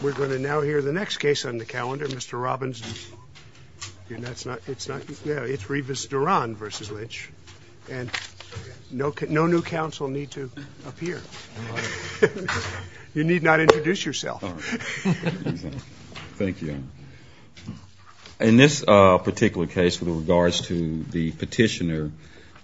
We're going to now hear the next case on the calendar, Mr. Robbins. It's Rivas-Duran v. Lynch, and no new counsel need to appear. You need not introduce yourself. Thank you. In this particular case, with regards to the petitioner,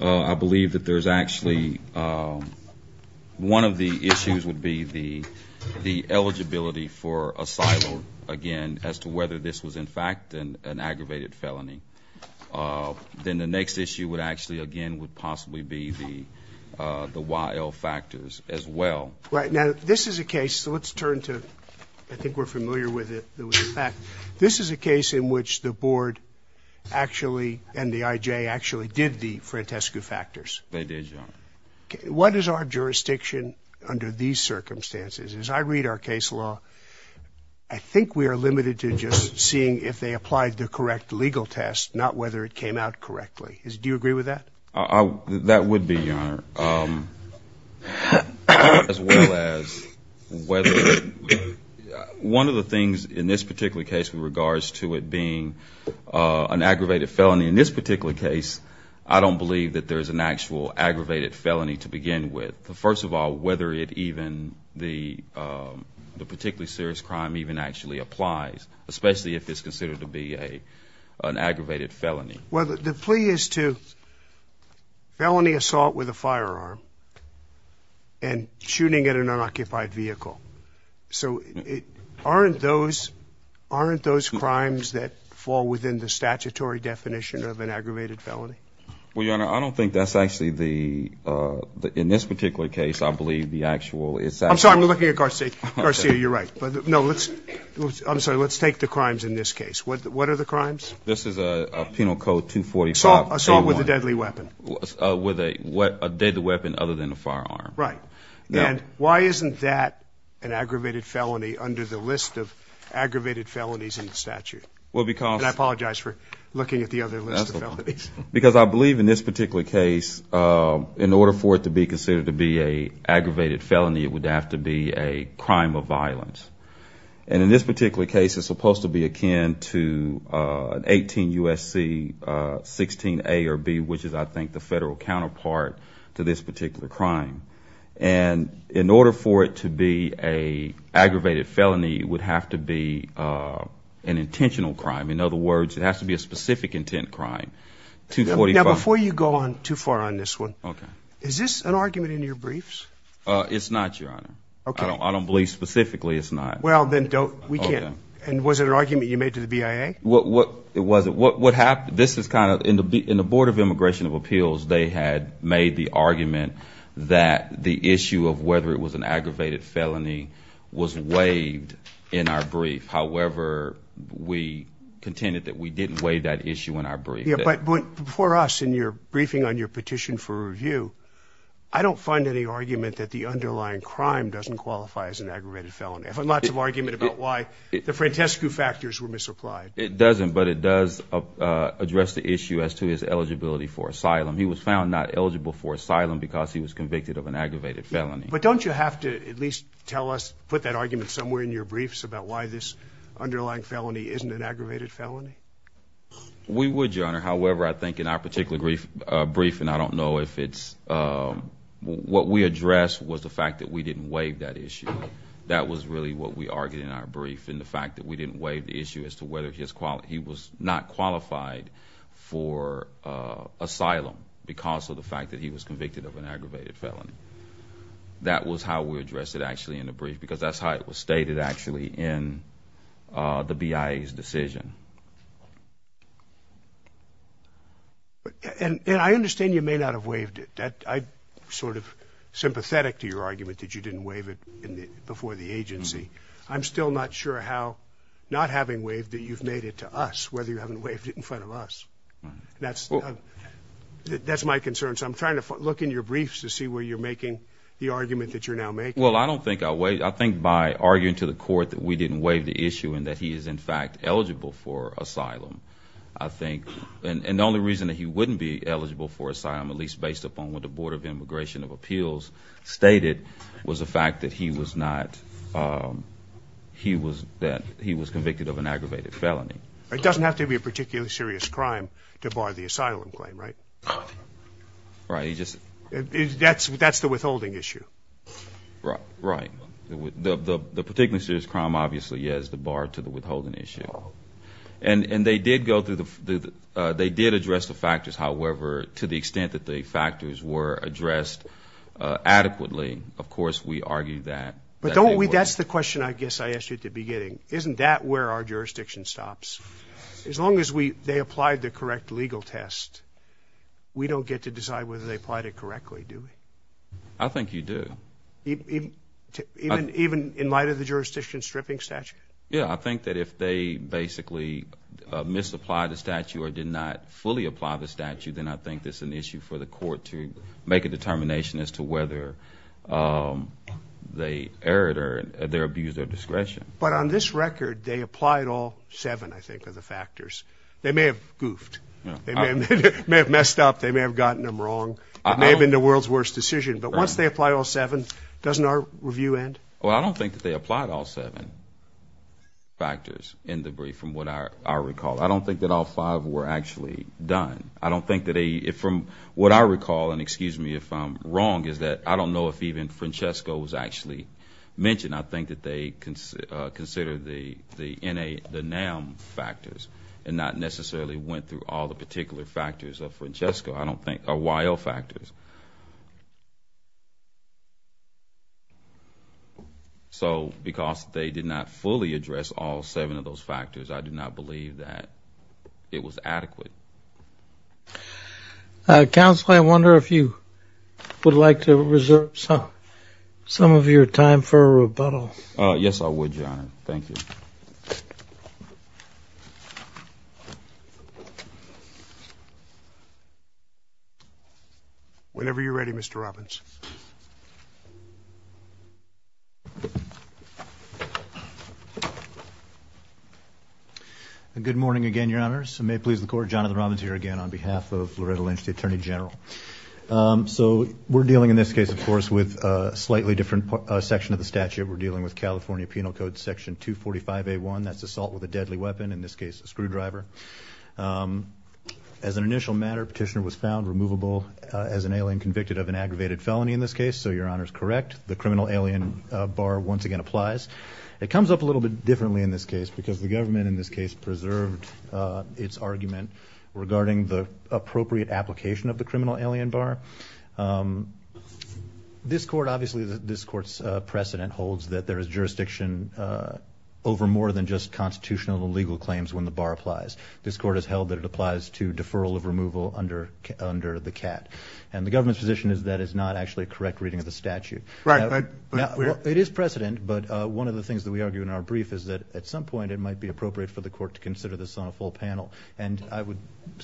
I believe that there's actually, one of the issues would be the eligibility for a silo, again, as to whether this was in fact an aggravated felony. Then the next issue would actually, again, would possibly be the YL factors as well. Right. Now, this is a case, so let's turn to, I think we're familiar with it. This is a case in which the board actually and the IJ actually did the Frantescu factors. They did, Your Honor. What is our jurisdiction under these circumstances? As I read our case law, I think we are limited to just seeing if they applied the correct legal test, not whether it came out correctly. That would be, Your Honor. As well as whether, one of the things in this particular case with regards to it being an aggravated felony, in this particular case, I don't believe that there's an actual aggravated felony to begin with. First of all, whether it even, the particularly serious crime even actually applies, especially if it's considered to be an aggravated felony. Well, the plea is to felony assault with a firearm and shooting at an unoccupied vehicle. So aren't those crimes that fall within the statutory definition of an aggravated felony? Well, Your Honor, I don't think that's actually the, in this particular case, I believe the actual is. I'm sorry, we're looking at Garcia. Garcia, you're right. No, let's, I'm sorry, let's take the crimes in this case. What are the crimes? This is a Penal Code 245. Assault with a deadly weapon. With a deadly weapon other than a firearm. Right. And why isn't that an aggravated felony under the list of aggravated felonies in the statute? Well, because. And I apologize for looking at the other list of felonies. Because I believe in this particular case, in order for it to be considered to be an aggravated felony, it would have to be a crime of violence. And in this particular case, it's supposed to be akin to 18 U.S.C. 16A or B, which is, I think, the federal counterpart to this particular crime. And in order for it to be an aggravated felony, it would have to be an intentional crime. In other words, it has to be a specific intent crime. Now, before you go on too far on this one, is this an argument in your briefs? It's not, Your Honor. Okay. I don't believe specifically it's not. Well, then don't. We can't. And was it an argument you made to the BIA? It wasn't. What happened, this is kind of, in the Board of Immigration of Appeals, they had made the argument that the issue of whether it was an aggravated felony was waived in our brief. However, we contended that we didn't waive that issue in our brief. Yeah, but before us, in your briefing on your petition for review, I don't find any argument that the underlying crime doesn't qualify as an aggravated felony. I found lots of argument about why the Frantescu factors were misapplied. It doesn't, but it does address the issue as to his eligibility for asylum. He was found not eligible for asylum because he was convicted of an aggravated felony. But don't you have to at least tell us, put that argument somewhere in your briefs, about why this underlying felony isn't an aggravated felony? We would, Your Honor. However, I think in our particular briefing, I don't know if it's, what we addressed was the fact that we didn't waive that issue. That was really what we argued in our brief, and the fact that we didn't waive the issue as to whether he was not qualified for asylum because of the fact that he was convicted of an aggravated felony. That was how we addressed it, actually, in the brief, because that's how it was stated, actually, in the BIA's decision. And I understand you may not have waived it. I'm sort of sympathetic to your argument that you didn't waive it before the agency. I'm still not sure how, not having waived it, you've made it to us, whether you haven't waived it in front of us. That's my concern, so I'm trying to look in your briefs to see where you're making the argument that you're now making. Well, I don't think I waived it. I think by arguing to the court that we didn't waive the issue and that he is, in fact, eligible for asylum, I think, and the only reason that he wouldn't be eligible for asylum, at least based upon what the Board of Immigration of Appeals stated, was the fact that he was convicted of an aggravated felony. It doesn't have to be a particularly serious crime to bar the asylum claim, right? Right. That's the withholding issue. Right. The particularly serious crime, obviously, yes, the bar to the withholding issue. And they did go through the – they did address the factors. However, to the extent that the factors were addressed adequately, of course, we argue that. But don't we – that's the question I guess I asked you at the beginning. Isn't that where our jurisdiction stops? As long as they applied the correct legal test, we don't get to decide whether they applied it correctly, do we? I think you do. Even in light of the jurisdiction stripping statute? Yeah, I think that if they basically misapplied the statute or did not fully apply the statute, then I think it's an issue for the court to make a determination as to whether they erred or they abused their discretion. But on this record, they applied all seven, I think, of the factors. They may have goofed. They may have messed up. They may have gotten them wrong. It may have been the world's worst decision. But once they apply all seven, doesn't our review end? Well, I don't think that they applied all seven factors in the brief from what I recall. I don't think that all five were actually done. I don't think that they – from what I recall, and excuse me if I'm wrong, is that I don't know if even Francesco was actually mentioned. I did not think that they considered the NAM factors and not necessarily went through all the particular factors of Francesco, I don't think, or YL factors. So because they did not fully address all seven of those factors, I do not believe that it was adequate. Counsel, I wonder if you would like to reserve some of your time for a rebuttal. Yes, I would, Your Honor. Thank you. Whenever you're ready, Mr. Robbins. Good morning again, Your Honors. May it please the Court, Jonathan Robbins here again on behalf of Loretta Lynch, the Attorney General. So we're dealing in this case, of course, with a slightly different section of the statute. We're dealing with California Penal Code Section 245A1. That's assault with a deadly weapon, in this case a screwdriver. As an initial matter, Petitioner was found removable as an alien convicted of an aggravated felony in this case. So Your Honor is correct. The criminal alien bar once again applies. It comes up a little bit differently in this case because the government, in this case, preserved its argument regarding the appropriate application of the criminal alien bar. This Court, obviously, this Court's precedent holds that there is jurisdiction over more than just constitutional and legal claims when the bar applies. This Court has held that it applies to deferral of removal under the CAT. And the government's position is that is not actually a correct reading of the statute. Right. It is precedent, but one of the things that we argue in our brief is that at some point it might be appropriate for the Court to consider this on a full panel. And I would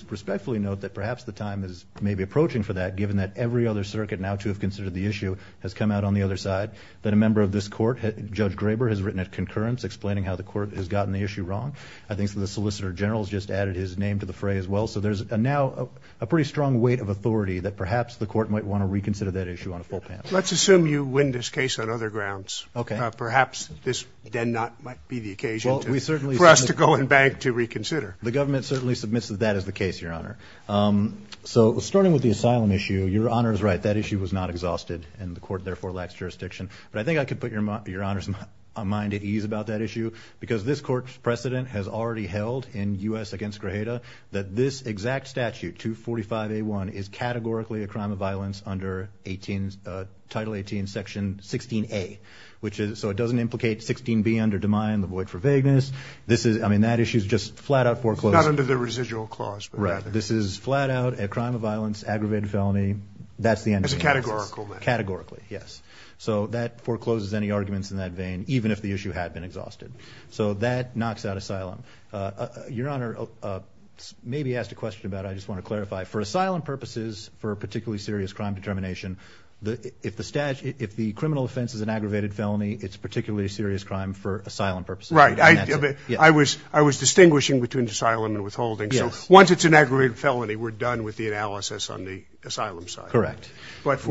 respectfully note that perhaps the time is maybe approaching for that, given that every other circuit now to have considered the issue has come out on the other side, that a member of this Court, Judge Graber, has written at concurrence explaining how the Court has gotten the issue wrong. I think the Solicitor General has just added his name to the fray as well. So there's now a pretty strong weight of authority that perhaps the Court might want to reconsider that issue on a full panel. Let's assume you win this case on other grounds. Okay. Perhaps this then might not be the occasion for us to go and beg to reconsider. The government certainly submits that that is the case, Your Honor. So starting with the asylum issue, Your Honor is right, that issue was not exhausted, and the Court therefore lacks jurisdiction. But I think I could put Your Honor's mind at ease about that issue that this exact statute, 245A1, is categorically a crime of violence under Title 18, Section 16A. So it doesn't implicate 16B under DeMine, the void for vagueness. I mean, that issue is just flat out foreclosed. It's not under the residual clause. Right. This is flat out a crime of violence, aggravated felony. That's the end of the analysis. It's a categorical thing. Categorically, yes. So that forecloses any arguments in that vein, even if the issue had been exhausted. So that knocks out asylum. Your Honor maybe asked a question about it. I just want to clarify. For asylum purposes, for a particularly serious crime determination, if the criminal offense is an aggravated felony, it's a particularly serious crime for asylum purposes. Right. I was distinguishing between asylum and withholding. So once it's an aggravated felony, we're done with the analysis on the asylum side. Correct. Correct.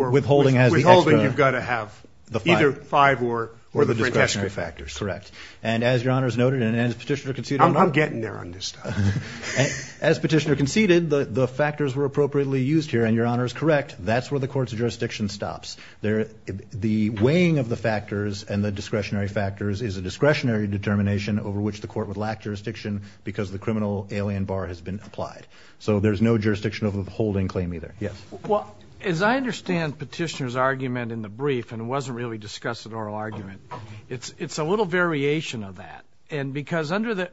And as Your Honor has noted and as Petitioner conceded. I'm getting there on this stuff. As Petitioner conceded, the factors were appropriately used here. And Your Honor is correct. That's where the court's jurisdiction stops. The weighing of the factors and the discretionary factors is a discretionary determination over which the court would lack jurisdiction because the criminal alien bar has been applied. So there's no jurisdiction of withholding claim either. Yes. Well, as I understand Petitioner's argument in the brief, and it wasn't really discussed as an oral argument, it's a little variation of that. And because under the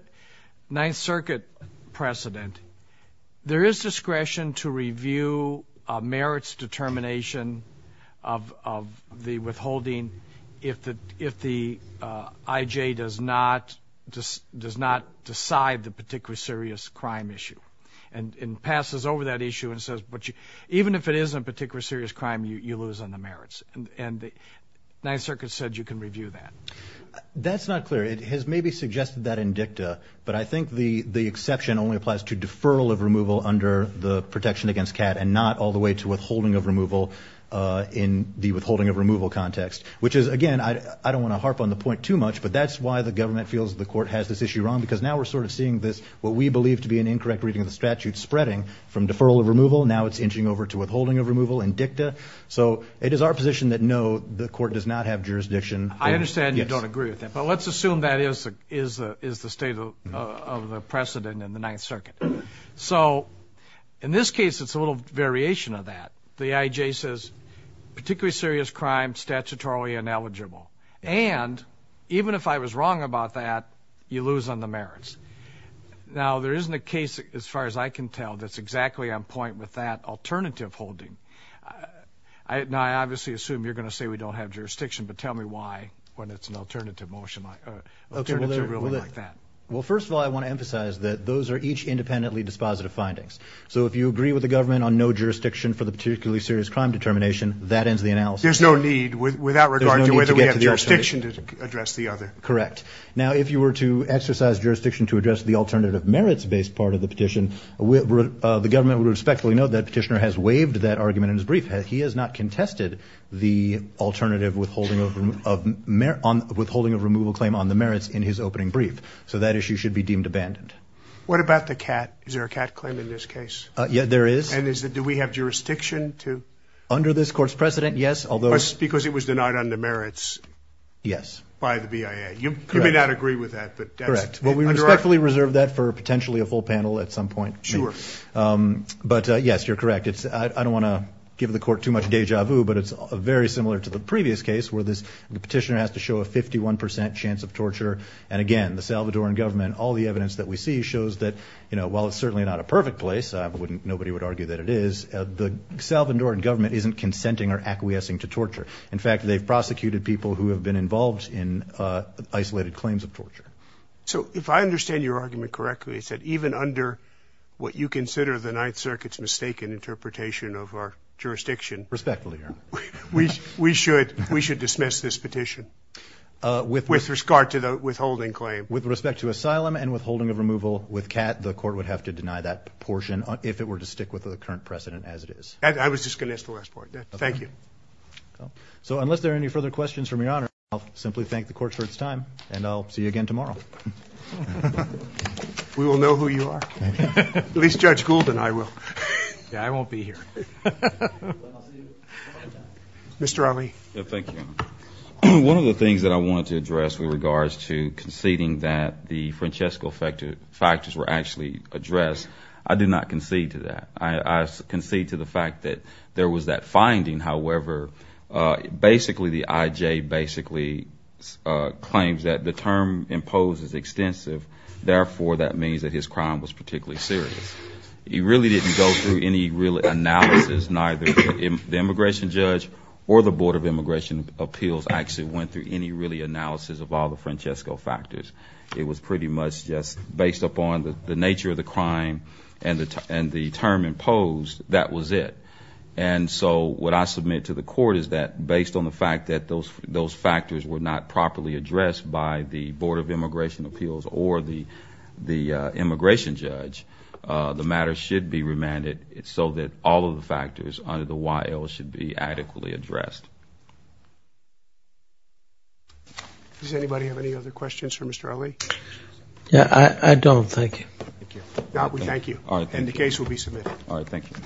Ninth Circuit precedent, there is discretion to review a merits determination of the withholding if the IJ does not decide the particularly serious crime issue and passes over that issue and says, but even if it isn't a particularly serious crime, you lose on the merits. And the Ninth Circuit said you can review that. That's not clear. It has maybe suggested that in dicta. But I think the exception only applies to deferral of removal under the protection against CAT and not all the way to withholding of removal in the withholding of removal context, which is, again, I don't want to harp on the point too much, but that's why the government feels the court has this issue wrong because now we're sort of seeing this, what we believe to be an incorrect reading of the statute, spreading from deferral of removal. Now it's inching over to withholding of removal in dicta. So it is our position that, no, the court does not have jurisdiction. I understand you don't agree with that, but let's assume that is the state of the precedent in the Ninth Circuit. So in this case it's a little variation of that. The IJ says particularly serious crime, statutorily ineligible. And even if I was wrong about that, you lose on the merits. Now there isn't a case, as far as I can tell, that's exactly on point with that alternative holding. Now I obviously assume you're going to say we don't have jurisdiction, but tell me why when it's an alternative holding like that. Well, first of all, I want to emphasize that those are each independently dispositive findings. So if you agree with the government on no jurisdiction for the particularly serious crime determination, that ends the analysis. There's no need without regard to whether we have jurisdiction to address the other. Correct. Now if you were to exercise jurisdiction to address the alternative merits-based part of the petition, the government would respectfully note that Petitioner has waived that argument in his brief. He has not contested the alternative withholding of removal claim on the merits in his opening brief. So that issue should be deemed abandoned. What about the CAT? Is there a CAT claim in this case? Yeah, there is. And do we have jurisdiction to? Under this Court's precedent, yes. Because it was denied on the merits. Yes. By the BIA. You may not agree with that. Correct. Well, we respectfully reserve that for potentially a full panel at some point. Sure. But, yes, you're correct. I don't want to give the Court too much deja vu, but it's very similar to the previous case where the Petitioner has to show a 51 percent chance of torture. And, again, the Salvadoran government, all the evidence that we see, shows that while it's certainly not a perfect place, nobody would argue that it is, the Salvadoran government isn't consenting or acquiescing to torture. So if I understand your argument correctly, it's that even under what you consider the Ninth Circuit's mistaken interpretation of our jurisdiction. Respectfully, Your Honor. We should dismiss this petition with regard to the withholding claim. With respect to asylum and withholding of removal with CAT, the Court would have to deny that portion if it were to stick with the current precedent as it is. I was just going to ask the last part. Thank you. So unless there are any further questions from Your Honor, I'll simply thank the Court for its time, and I'll see you again tomorrow. We will know who you are. At least Judge Gould and I will. Yeah, I won't be here. Mr. Ali. Thank you. One of the things that I wanted to address with regards to conceding that the Francesco factors were actually addressed, I did not concede to that. I concede to the fact that there was that finding. However, basically the IJ basically claims that the term imposed is extensive, therefore that means that his crime was particularly serious. He really didn't go through any real analysis, neither the immigration judge or the Board of Immigration Appeals actually went through any real analysis of all the Francesco factors. It was pretty much just based upon the nature of the crime and the term imposed, that was it. And so what I submit to the Court is that based on the fact that those factors were not properly addressed by the Board of Immigration Appeals or the immigration judge, the matter should be remanded so that all of the factors under the YL should be adequately addressed. Does anybody have any other questions for Mr. Ali? Yeah, I don't. Thank you. We thank you. And the case will be submitted. All right, thank you.